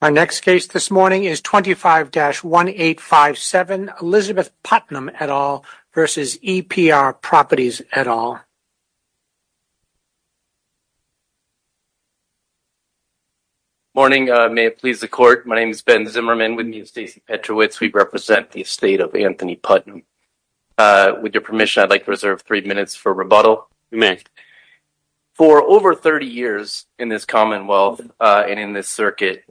My next case this morning is 25-1857 Elizabeth Putnam et al. versus EPR Properties et al. Morning, may it please the court. My name is Ben Zimmerman with me is Stacey Petrowitz. We represent the estate of Anthony Putnam. With your permission, I'd like to reserve three minutes for rebuttal. For over 30 years in this commonwealth and in this circuit,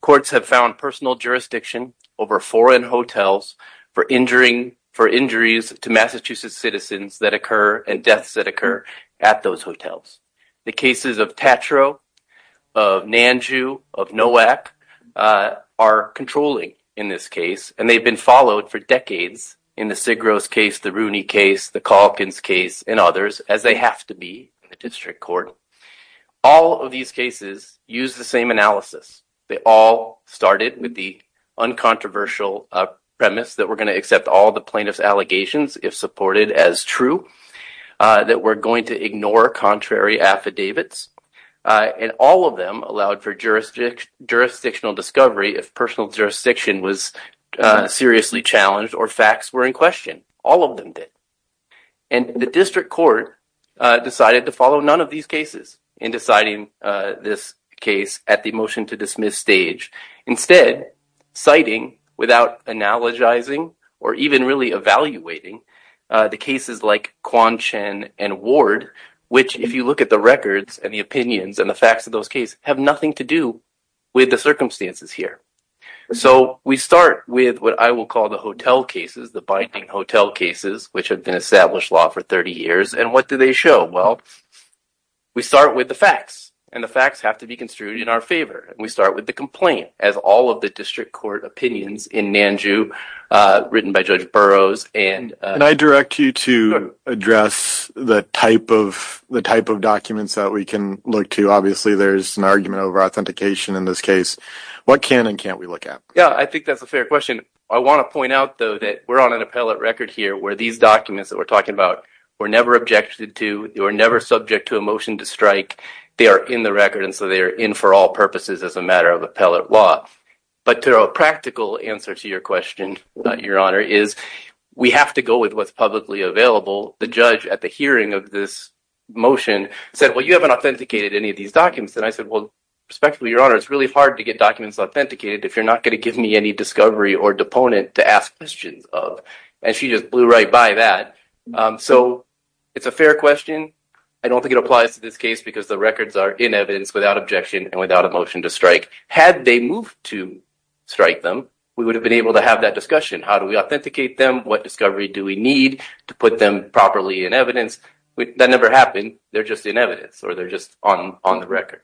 courts have found personal jurisdiction over foreign hotels for injuries to Massachusetts citizens that occur and deaths that occur at those hotels. The cases of Tatro, of Nanju, of Nowak are controlling in this case, and they've been followed for decades in the Sigros case, the Rooney case, the Calkins case, and others, as they have to be in the district court. All of these cases use the same analysis. They all started with the uncontroversial premise that we're going to accept all the plaintiffs' allegations if supported as true, that we're going to ignore contrary affidavits, and all of them allowed for jurisdictional discovery if personal jurisdiction was seriously challenged or facts were in question. All of them did, and the district court decided to follow none of these cases in deciding this case at the motion to dismiss stage, instead citing, without analogizing or even really evaluating, the cases like Quanchen and Ward, which if you look at the records and the opinions and the facts of those cases have nothing to do with the circumstances here. So we start with what I will call the hotel cases, the binding hotel cases, which have been established law for 30 years, and what do they show? Well, we start with the facts, and the facts have to be construed in our favor. We start with the complaint, as all of the district court opinions in Nanju, written by Judge Burroughs, and I direct you to address the type of documents that we can look to. Obviously, there's an argument over authentication in this case. What can and can't we look at? Yeah, I think that's a fair question. I want to point out, though, that we're on an appellate record here where these documents that we're talking about were never objected to, were never subject to a motion to strike. They are in the record, and so they are in for all purposes as a matter of appellate law. But to a practical answer to your question, Your Honor, is we have to go with what's publicly available. The judge, at the hearing of this motion, said, well, you haven't authenticated any of these documents, and I said, well, respectfully, Your Honor, it's really hard to get documents authenticated if you're not going to give me any discovery or deponent to ask questions of, and she just blew right by that. So it's a fair question. I don't think it applies to this case because the records are in evidence without objection and without a motion to strike. Had they moved to strike them, we would have been able to have that discussion. How do we authenticate them? What discovery do we need to put them properly in evidence? That never happened. They're just in evidence, or they're just on the record.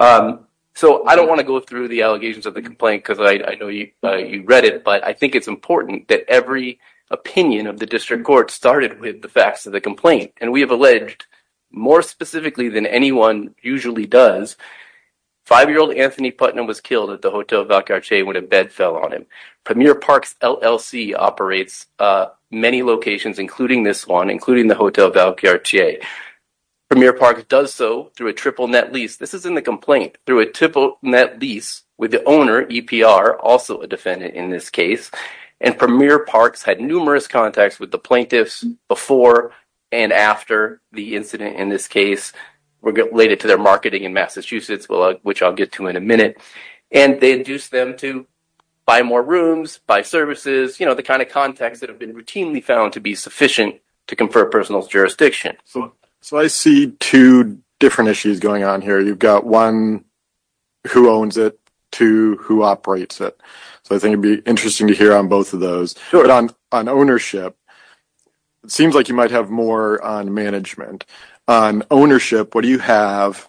So I don't want to go through the allegations of the complaint because I know you read it, but I think it's important that every opinion of the district court started with the facts of the complaint, and we have alleged, more specifically than anyone usually does, five-year-old Anthony Putnam was killed at the Hotel Valquerche when a bed fell on him. Premier Parks LLC operates many locations, including this one, including the Hotel Valquerche. Premier Parks does so through a triple net lease. This is in the complaint, through a triple net lease with the owner, EPR, also a defendant in this case, and Premier Parks had numerous contacts with the plaintiffs before and after the incident in this case related to their marketing in Massachusetts, which I'll get to in a minute, and they induced them to buy more rooms, buy services, you know, the kind of contacts that have been routinely found to be sufficient to confer personal jurisdiction. So I see two different issues going on here. You've got one, who owns it, two, who operates it. So I think it'd be interesting to hear on both of those. On ownership, it seems like you might have more on management. On ownership, what do you have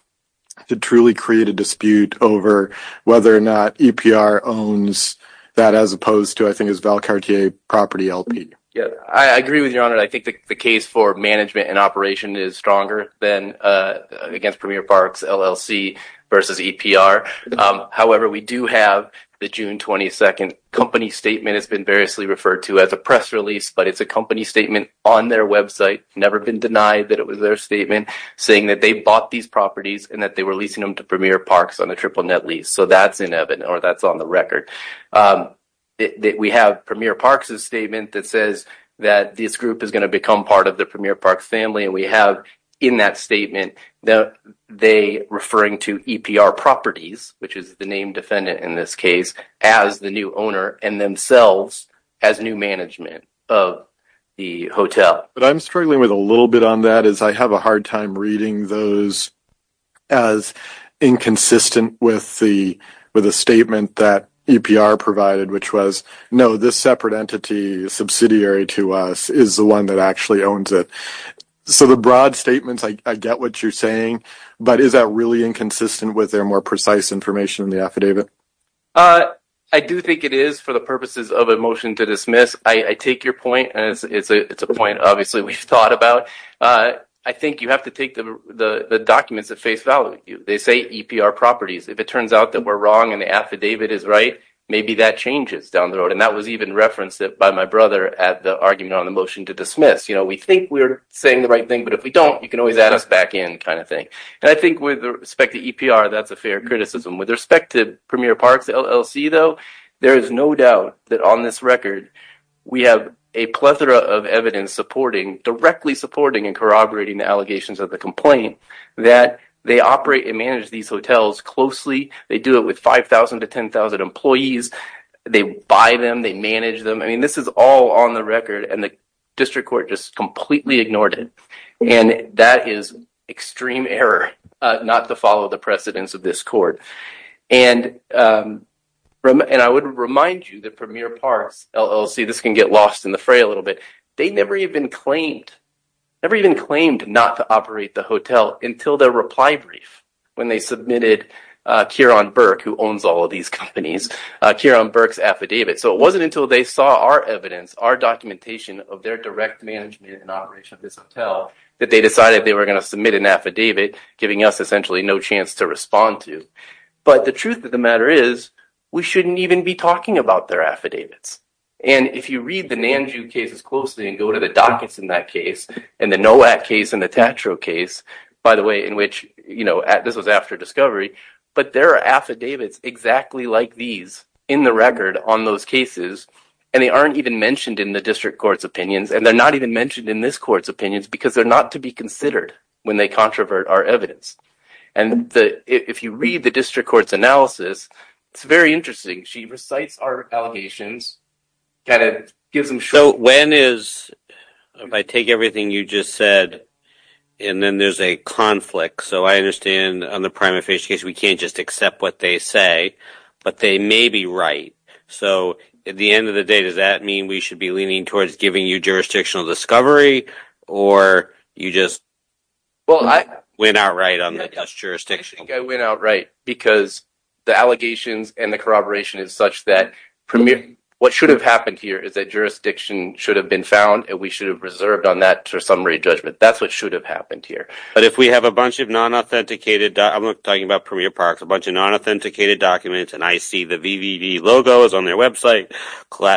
to truly create a dispute over whether or not EPR owns that as opposed to, I think, as Valquerche Property LP? Yeah, I agree with your honor. I think the case for management and operation is stronger than against Premier Parks LLC versus EPR. However, we do have the June 22nd company statement. It's been variously referred to as a press release, but it's a company statement on their website, never been denied that it was their statement saying that they bought these properties and that they were leasing them to Premier Parks on a triple net lease. So that's in Evan, or that's on the record. We have Premier Parks' statement that says that this group is going to become part of the Premier Parks family, and we in that statement, they referring to EPR properties, which is the name defendant in this case, as the new owner and themselves as new management of the hotel. But I'm struggling with a little bit on that as I have a hard time reading those as inconsistent with the statement that EPR provided, which was, no, this separate entity subsidiary to us is the one that actually owns it. So the broad statements, I get what you're saying, but is that really inconsistent with their more precise information in the affidavit? I do think it is for the purposes of a motion to dismiss. I take your point, and it's a point obviously we've thought about. I think you have to take the documents at face value. They say EPR properties. If it turns out that we're wrong and the affidavit is right, maybe that changes down the road. And that was referenced by my brother at the argument on the motion to dismiss. We think we're saying the right thing, but if we don't, you can always add us back in kind of thing. And I think with respect to EPR, that's a fair criticism. With respect to Premier Parks LLC, though, there is no doubt that on this record, we have a plethora of evidence supporting, directly supporting and corroborating the allegations of the complaint that they operate and manage these hotels closely. They do it with 5,000 to 10,000 employees. They buy them. They manage them. I mean, this is all on the record, and the district court just completely ignored it. And that is extreme error not to follow the precedence of this court. And I would remind you that Premier Parks LLC, this can get lost in the fray a little bit, they never even claimed, never even claimed not to operate the hotel until their reply brief, when they submitted Kieron Burke, who owns all of these companies, Kieron Burke's affidavit. So it wasn't until they saw our evidence, our documentation of their direct management and operation of this hotel, that they decided they were going to submit an affidavit, giving us essentially no chance to respond to. But the truth of the matter is, we shouldn't even be talking about their affidavits. And if you read the Nanju cases closely and go to the dockets in that case, and the NOAC case and the Tatro case, by the way, in which, you know, this was after discovery, but there are affidavits exactly like these in the record on those cases. And they aren't even mentioned in the district court's opinions. And they're not even mentioned in this court's opinions because they're not to be considered when they controvert our evidence. And if you read the district court's analysis, it's very interesting. She recites our allegations, kind of gives them short... So when is, if I take everything you just said, and then there's a conflict. So I understand on the primate face case, we can't just accept what they say, but they may be right. So at the end of the day, does that mean we should be leaning towards giving you jurisdictional discovery or you just went out right on the jurisdiction? I went out right because the allegations and the corroboration is such that what should have happened here is that jurisdiction should have been found and we should have reserved on that for summary judgment. That's what should have happened here. But if we have a bunch of non-authenticated... I'm talking about Premier Parks, a bunch of non-authenticated documents, and I see the VVV logos on their website,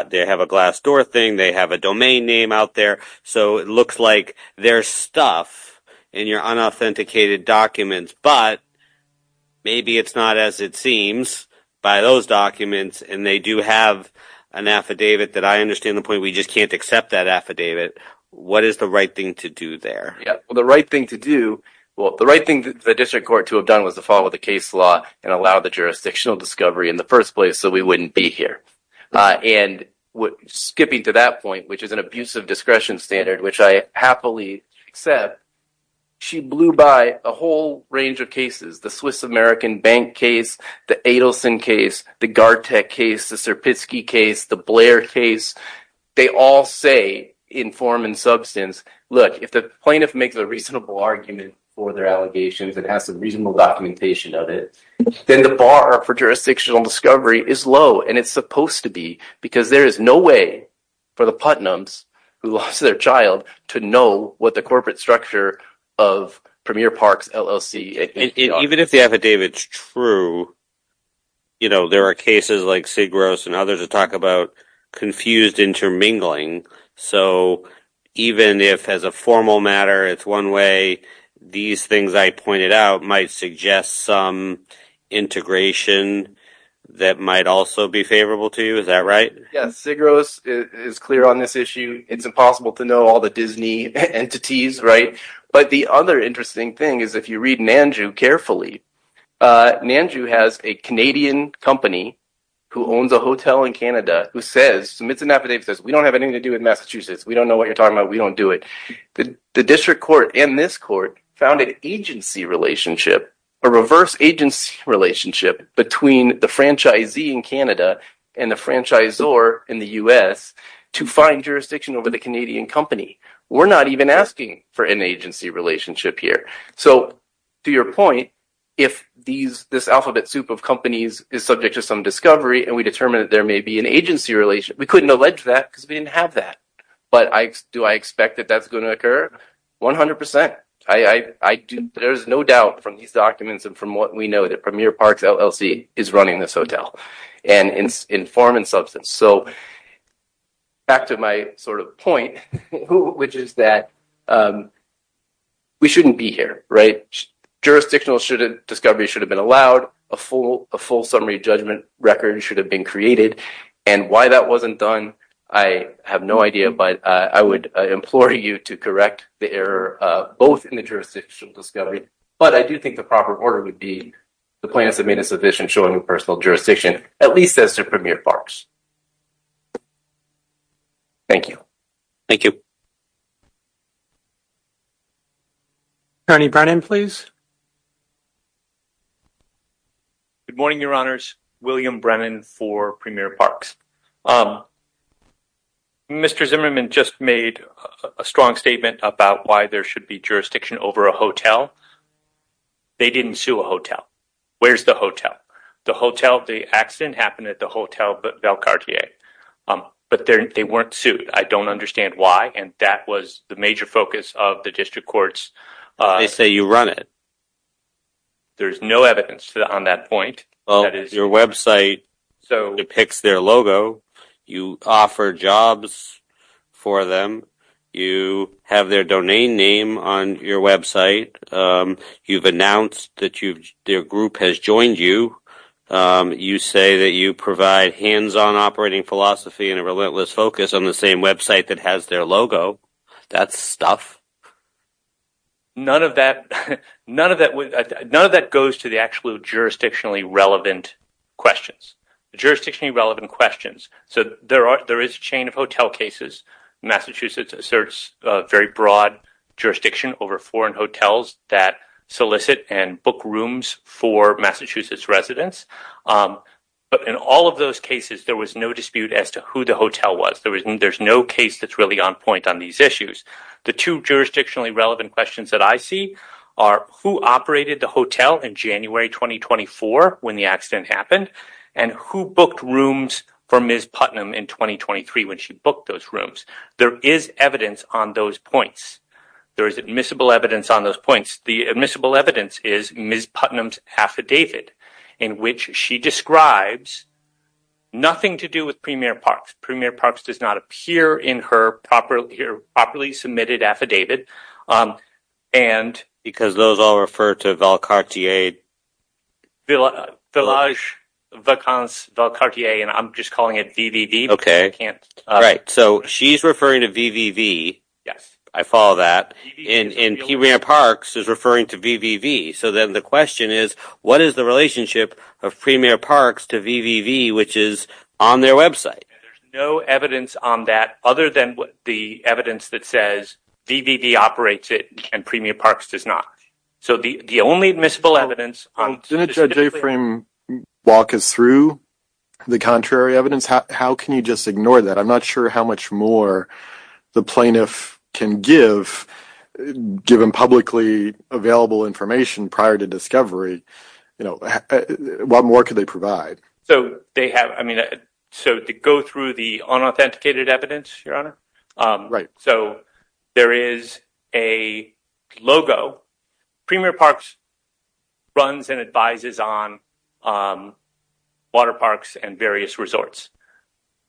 they have a glass door thing, they have a domain name out there. So it looks like there's stuff in your unauthenticated documents, but maybe it's not as it seems by those documents. And they do have an affidavit that I understand the point, we just can't accept that affidavit. What is the right thing to do there? Yeah, well, the right thing to do, well, the right thing that the district court to have done was to follow the case law and allow the jurisdictional discovery in the first place so we wouldn't be And skipping to that point, which is an abusive discretion standard, which I happily accept, she blew by a whole range of cases, the Swiss American Bank case, the Adelson case, the Gartec case, the Serpitsky case, the Blair case. They all say in form and substance, look, if the plaintiff makes a reasonable argument for their allegations and has some reasonable documentation of it, then the bar for jurisdictional discovery is low. And it's supposed to be because there is no way for the Putnam's who lost their child to know what the corporate structure of Premier Parks LLC. Even if the affidavit's true, you know, there are cases like Segros and others that talk about confused intermingling. So even if as a formal matter, it's one way, these things I pointed out might suggest some integration that might also be favorable to you. Is that right? Yes. Segros is clear on this issue. It's impossible to know all the Disney entities, right? But the other interesting thing is if you read Nandu carefully, Nandu has a Canadian company who owns a hotel in Canada who says, submits an affidavit, says, we don't have anything to do with Massachusetts. We don't know what you're talking about. We don't do it. The district court and this court found an agency relationship, a reverse agency relationship between the franchisee in Canada and the franchisor in the U.S. to find jurisdiction over the Canadian company. We're not even asking for an agency relationship here. So to your point, if this alphabet soup of companies is subject to some discovery and we determine that there may be an agency relationship, we couldn't allege that because we didn't have that. But do I expect that that's going to occur? 100%. There's no doubt from these documents and from what we know that Premier Parks LLC is running this hotel in form and substance. So back to my sort of point, which is that we shouldn't be here, right? Jurisdictional discovery should have been allowed. A full summary judgment record should have been created. And why that wasn't done, I have no idea, but I would implore you to correct the error, both in the jurisdictional discovery, but I do think the proper order would be the plaintiffs have made a submission showing personal jurisdiction, at least as to Premier Parks. Thank you. Thank you. Attorney Brennan, please. Good morning, Your Honors. William Brennan for Premier Parks. Mr. Zimmerman just made a strong statement about why there should be jurisdiction over a hotel. They didn't sue a hotel. Where's the hotel? The hotel, the accident happened at the hotel, but Belcardier. But they weren't sued. I don't understand why. And that was the major focus of there's no evidence on that point. Well, your website depicts their logo. You offer jobs for them. You have their domain name on your website. You've announced that their group has joined you. You say that you provide hands-on operating philosophy and a relentless focus on the same website that has their logo. That's stuff. None of that, none of that, none of that goes to the actual jurisdictionally relevant questions. Jurisdictionally relevant questions. So there are, there is a chain of hotel cases. Massachusetts asserts a very broad jurisdiction over foreign hotels that solicit and book rooms for Massachusetts residents. Um, but in all of those cases, there was no dispute as to who the hotel was. There was, there's no case that's really on point on these issues. The two jurisdictionally relevant questions that I see are who operated the hotel in January, 2024 when the accident happened and who booked rooms for Ms. Putnam in 2023 when she booked those rooms. There is evidence on those points. There is admissible evidence on those points. The admissible evidence is Ms. Putnam's she describes nothing to do with Premier Parks. Premier Parks does not appear in her properly submitted affidavit. Um, and. Because those all refer to Velcartier. Village, Velcartier, and I'm just calling it VVV. Okay. Right. So she's referring to VVV. Yes. I follow that. And Premier Parks is referring to VVV. So then the question is, what is the relationship of Premier Parks to VVV, which is on their website? There's no evidence on that other than the evidence that says VVV operates it and Premier Parks does not. So the, the only admissible evidence on. Didn't Judge Aframe walk us through the contrary evidence? How can you just ignore that? I'm not sure how much more the plaintiff can give given publicly available information prior to discovery. You know, what more could they provide? So they have, I mean, so to go through the unauthenticated evidence, Your Honor. Right. So there is a logo. Premier Parks runs and advises on um, water parks and various resorts.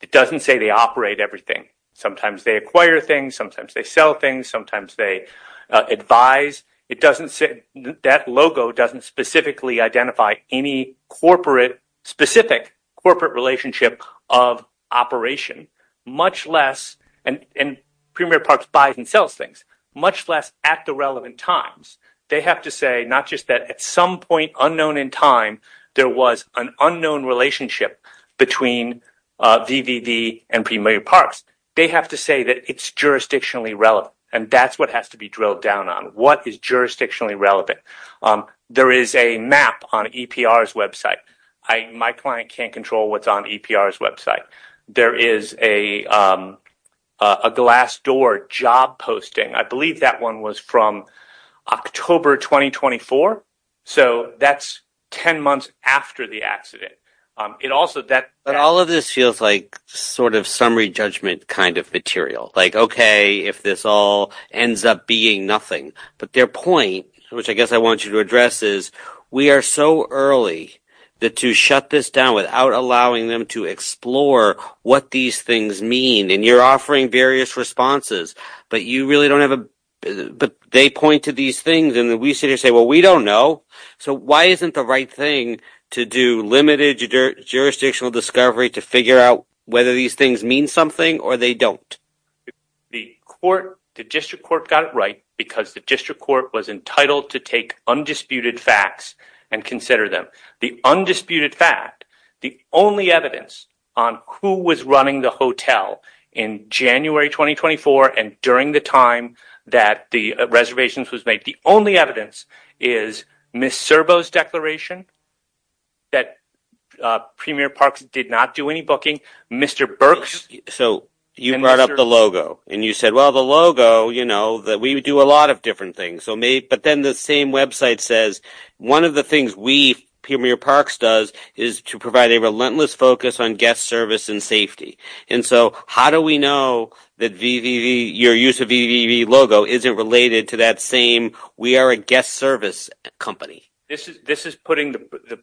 It doesn't say they operate everything. Sometimes they acquire things. Sometimes they sell things. Sometimes they advise. It doesn't say that logo doesn't specifically identify any corporate specific corporate relationship of operation, much less and, and Premier Parks buys and sells things much less at the relevant times. They have to say, not just that at some point unknown in time, there was an unknown relationship between VVV and Premier Parks. They have to say that it's jurisdictionally relevant and that's what has to be drilled down on. What is jurisdictionally relevant? There is a map on EPR's website. I, my client can't control what's on EPR's website. There is a, a glass door job posting. I believe that one was from October, 2024. So that's 10 months after the accident. Um, it also, that all of this feels like sort of summary judgment kind of material, like, okay, if this all ends up being nothing, but their point, which I guess I want you to address is we are so early that to shut this down without allowing them to explore what these things mean, and you're various responses, but you really don't have a, but they point to these things and then we sit here and say, well, we don't know. So why isn't the right thing to do limited jurisdictional discovery to figure out whether these things mean something or they don't? The court, the district court got it right because the district court was entitled to take undisputed facts and consider them the undisputed fact, the only evidence on who was running the hotel in January, 2024. And during the time that the reservations was made, the only evidence is Ms. Servo's declaration that, uh, premier parks did not do any booking Mr. Burke's. So you brought up the logo and you said, well, the logo, you know, that we would do a lot of different things. So may, but then the same website says, one of the things we premier parks does is to provide a relentless focus on guest service and safety. And so how do we know that VVV your use of VVV logo isn't related to that same, we are a guest service company. This is, this is putting the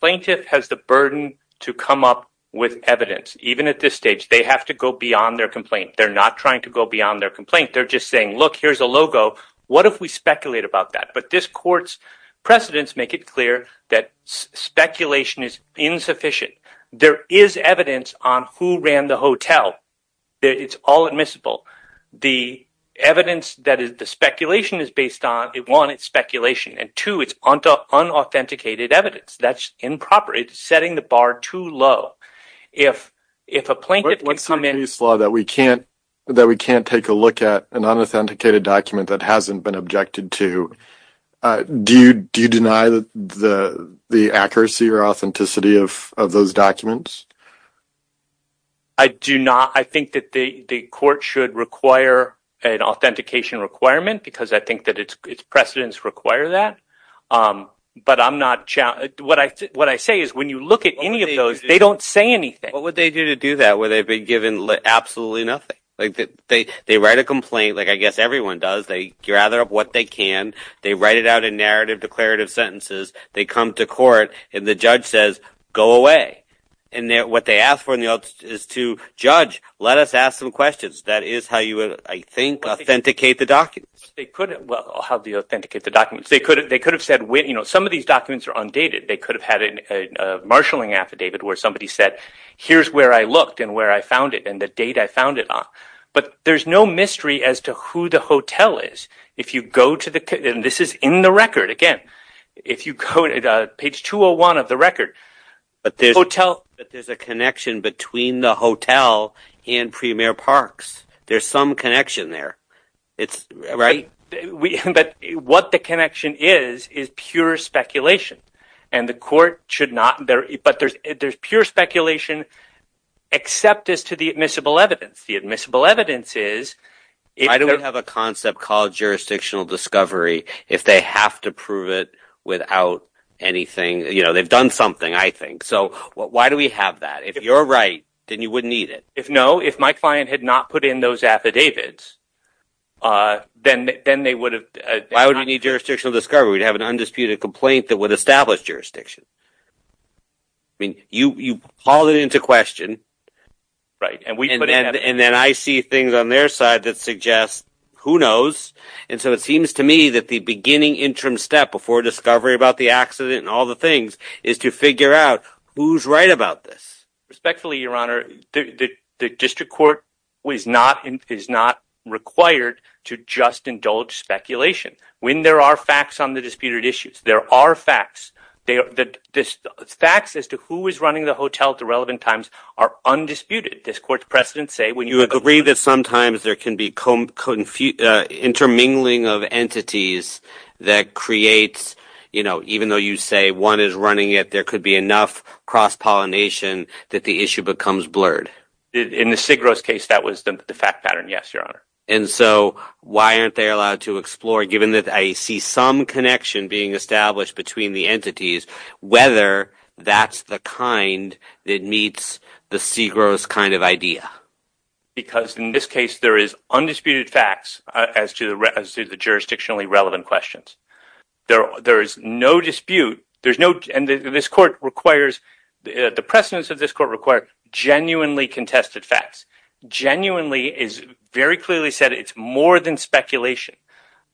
plaintiff has the burden to come up with evidence. Even at this stage, they have to go beyond their complaint. They're not trying to go beyond their complaint. They're just saying, look, here's a logo. What if we speculate about that? But this court's precedents make it clear that speculation is insufficient. There is evidence on who ran the hotel. It's all admissible. The evidence that is the speculation is based on it. One, it's speculation. And two, it's onto unauthenticated evidence that's improper. It's setting the bar too low. If, if a plaintiff would come in, that we can't, that we can't take a look at an unauthenticated document that hasn't been objected to. Do you, do you deny the, the, the accuracy or authenticity of, of those documents? I do not. I think that the court should require an authentication requirement because I think that it's, it's precedents require that. But I'm not, what I, what I say is when you look at any of those, they don't say anything. What would they do to do that? Where they've been given absolutely nothing. Like they, they, they write a complaint. Like I guess everyone does. They gather up what they can. They write it out in narrative declarative sentences. They come to court and the judge says, go away. And then what they ask for in the, is to judge, let us ask some questions. That is how you would, I think, authenticate the documents. They couldn't, well, how do you authenticate the documents? They could have, they could have said when, some of these documents are undated. They could have had a marshalling affidavit where somebody said, here's where I looked and where I found it and the date I found it on. But there's no mystery as to who the hotel is. If you go to the, and this is in the record again, if you go to page 201 of the record. But there's a connection between the hotel and Premier Parks. There's some connection it's right. We, but what the connection is, is pure speculation and the court should not, there, but there's, there's pure speculation except as to the admissible evidence. The admissible evidence is. Why do we have a concept called jurisdictional discovery? If they have to prove it without anything, you know, they've done something, I think. So why do we have that? If you're right, then you wouldn't need it. If no, if my client had not put in those affidavits, then, then they would have. Why would we need jurisdictional discovery? We'd have an undisputed complaint that would establish jurisdiction. I mean, you, you haul it into question. Right. And we, and then I see things on their side that suggest who knows. And so it seems to me that the beginning interim step before discovery about the accident and all the things is to figure out who's right about this. Respectfully, your honor, the district court was not, is not required to just indulge speculation. When there are facts on the disputed issues, there are facts. They are the facts as to who is running the hotel at the relevant times are undisputed. This court's precedents say when you agree that sometimes there can be intermingling of entities that creates, you know, even though you say one is running it, there could be enough cross-pollination that the issue becomes blurred. In the Sigros case, that was the fact pattern. Yes, your honor. And so why aren't they allowed to explore, given that I see some connection being established between the entities, whether that's the kind that meets the Sigros kind of idea? Because in this case, there is undisputed facts as to the, as to the jurisdictionally relevant questions. There, there is no dispute. There's no, and this court requires the precedents of this court require genuinely contested facts. Genuinely is very clearly said. It's more than speculation.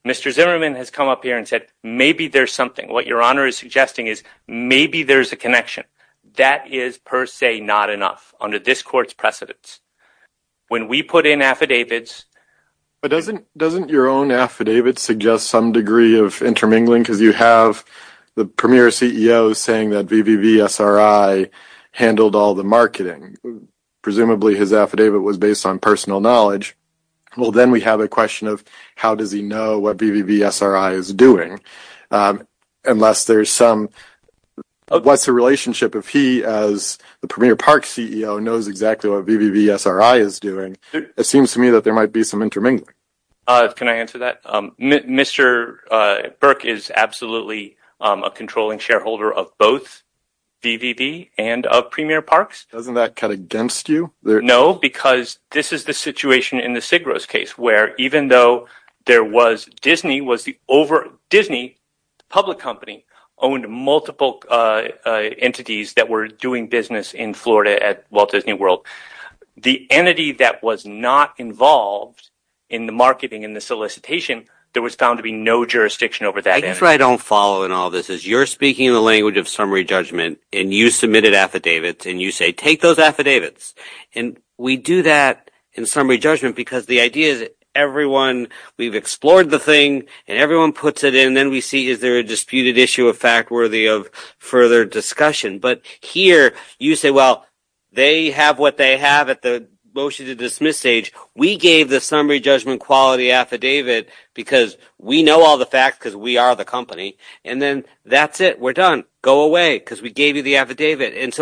Mr. Zimmerman has come up here and said, maybe there's something, what your honor is suggesting is maybe there's a connection that is per se, not enough under this court's precedents. When we put in affidavits. But doesn't, doesn't your own affidavit suggest some degree of intermingling? Cause you have the premier CEO saying that VVVSRI handled all the marketing. Presumably his affidavit was based on personal knowledge. Well, then we have a question of how does he know what VVVSRI is doing? Unless there's some, what's the relationship if he, as the premier park CEO knows exactly what VVVSRI is doing. It seems to me that there might be some intermingling. Can I answer that? Mr. Burke is absolutely a controlling shareholder of both VVV and of premier parks. Doesn't that cut against you? No, because this is the situation in the Sigros case where even though there was Disney was the over Disney public company owned multiple entities that were doing business in Florida at Walt Disney World. The entity that was not involved in the marketing and the solicitation, there was found to be no jurisdiction over that. I guess what I don't follow in all this is you're speaking in the language of summary judgment and you submitted affidavits and you say, take those affidavits. And we do that in summary judgment because the idea is everyone, we've explored the thing and everyone puts it in. We see is there a disputed issue of fact worthy of further discussion, but here you say, well, they have what they have at the motion to dismiss stage. We gave the summary judgment quality affidavit because we know all the facts because we are the company and then that's it. We're done. Go away because we gave you the affidavit. It's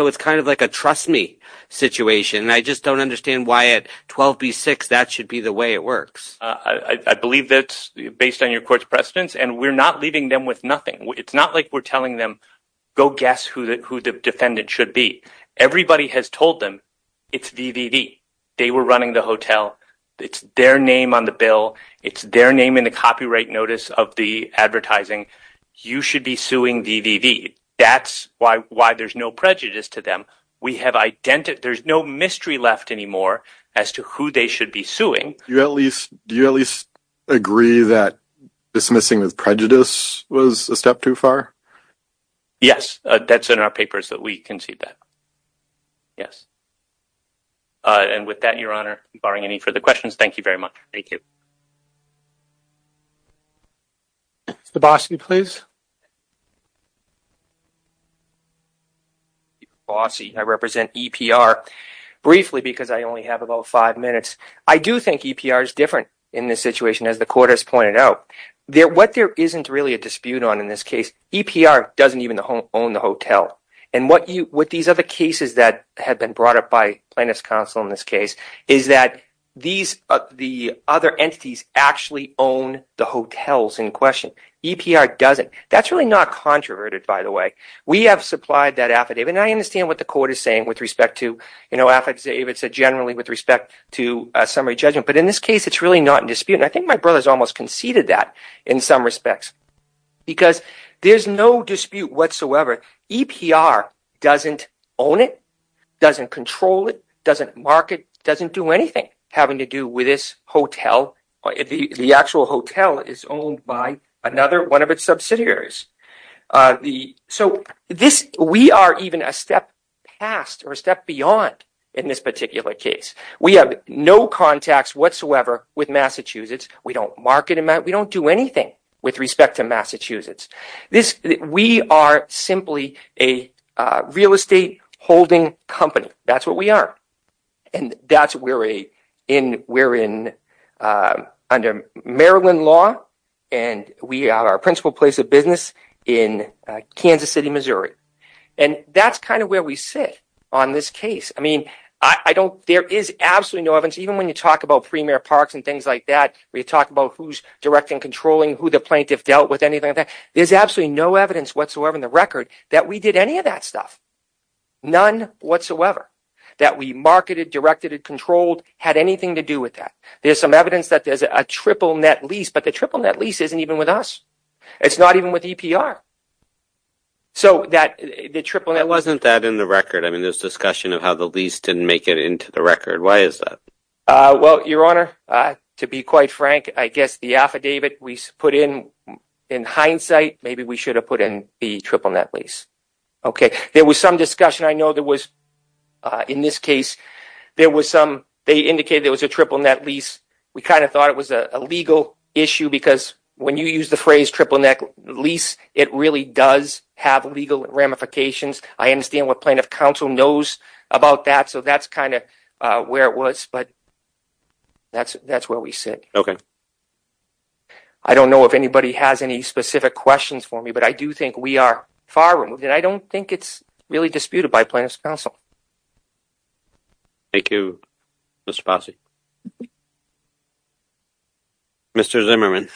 like a trust me situation. I just don't understand why at 12B6 that should be the way it works. I believe that's based on your court's precedents and we're not leaving them with nothing. It's not like we're telling them, go guess who the defendant should be. Everybody has told them it's VVV. They were running the hotel. It's their name on the bill. It's their name in the copyright notice of the advertising. You should be suing VVV. That's why there's no prejudice to them. There's no mystery left anymore as to who they should be suing. Do you at least agree that dismissing with prejudice was a step too far? Yes, that's in our papers that we concede that. Yes. And with that, your honor, barring any further questions, thank you very much. Thank you. The bossy, please. The bossy. I represent EPR. Briefly, because I only have about five minutes, I do think EPR is different in this situation as the court has pointed out. What there isn't really a dispute on in this case, EPR doesn't even own the hotel. And what these other cases that have been brought up by plaintiff's counsel in this case is that the other entities actually own the hotels in this case. That's really not controverted, by the way. We have supplied that affidavit. And I understand what the court is saying with respect to affidavits generally with respect to summary judgment. But in this case, it's really not in dispute. And I think my brother has almost conceded that in some respects because there's no dispute whatsoever. EPR doesn't own it, doesn't control it, doesn't market, doesn't do anything having to do with this hotel. The actual hotel is owned by another one of its subsidiaries. So we are even a step past or a step beyond in this particular case. We have no contacts whatsoever with Massachusetts. We don't market them. We don't do anything with respect to Massachusetts. We are simply a real estate holding company. That's what we are. And that's why we're under Maryland law. And we are a principal place of business in Kansas City, Missouri. And that's kind of where we sit on this case. I mean, there is absolutely no evidence, even when you talk about Premier Parks and things like that, when you talk about who's directing and controlling, who the plaintiff dealt with, anything like that, there's absolutely no evidence whatsoever in the record that we did any of that stuff, none whatsoever, that we marketed, directed and controlled, had anything to do with that. There's some evidence that there's a triple net lease, but the triple net lease isn't even with us. It's not even with EPR. So that the triple net... It wasn't that in the record. I mean, there's discussion of how the lease didn't make it into the record. Why is that? Well, Your Honor, to be quite frank, I guess the affidavit we put in, in hindsight, maybe we should have put in the triple net lease. Okay. There was some discussion. I know there was, in this case, there was some... They indicated there was a triple net lease. We kind of thought it was a legal issue because when you use the phrase triple net lease, it really does have legal ramifications. I understand what plaintiff counsel knows about that. So that's kind of where it was, but that's where we sit. Okay. I don't know if anybody has any specific questions for me, but I do think we are far removed, and I don't think it's really disputed by plaintiff's counsel. Thank you, Mr. Fossey. Mr. Zimmerman.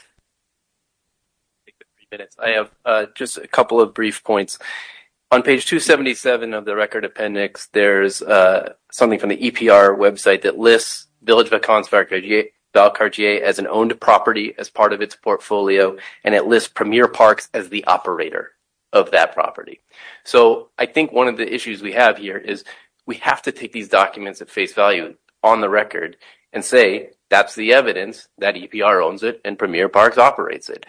I have just a couple of brief points. On page 277 of the record appendix, there's something from the EPR website that lists Village of Akan's Valcartier as an owned property as part of its property. So I think one of the issues we have here is we have to take these documents at face value on the record and say that's the evidence that EPR owns it and Premier Parks operates it.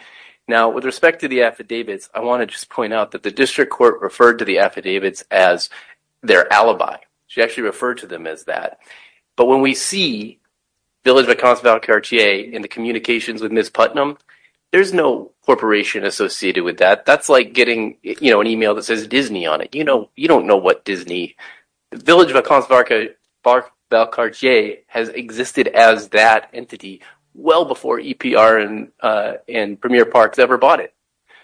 Now, with respect to the affidavits, I want to just point out that the district court referred to the affidavits as their alibi. She actually referred to them as that. But when we see Village of Akan's Valcartier in the communications with Ms. Putnam, there's no corporation associated with that. That's like getting an email that says Disney on it. You don't know what Disney. Village of Akan's Valcartier has existed as that entity well before EPR and Premier Parks ever bought it.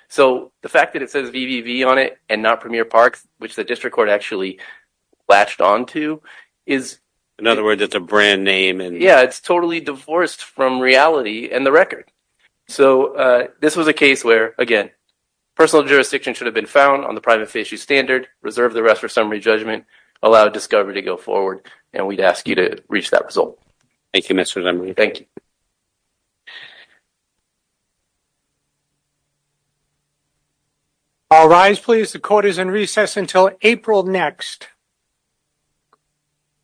So the fact that it says VVV on it and not Premier Parks, which the district court actually latched onto, is... In other words, it's a brand name and... It's totally divorced from reality and the record. So this was a case where, again, personal jurisdiction should have been found on the private facie standard, reserve the rest for summary judgment, allow discovery to go forward, and we'd ask you to reach that result. Thank you, Mr. Lemery. Thank you. I'll rise, please. The court is in recess until April next.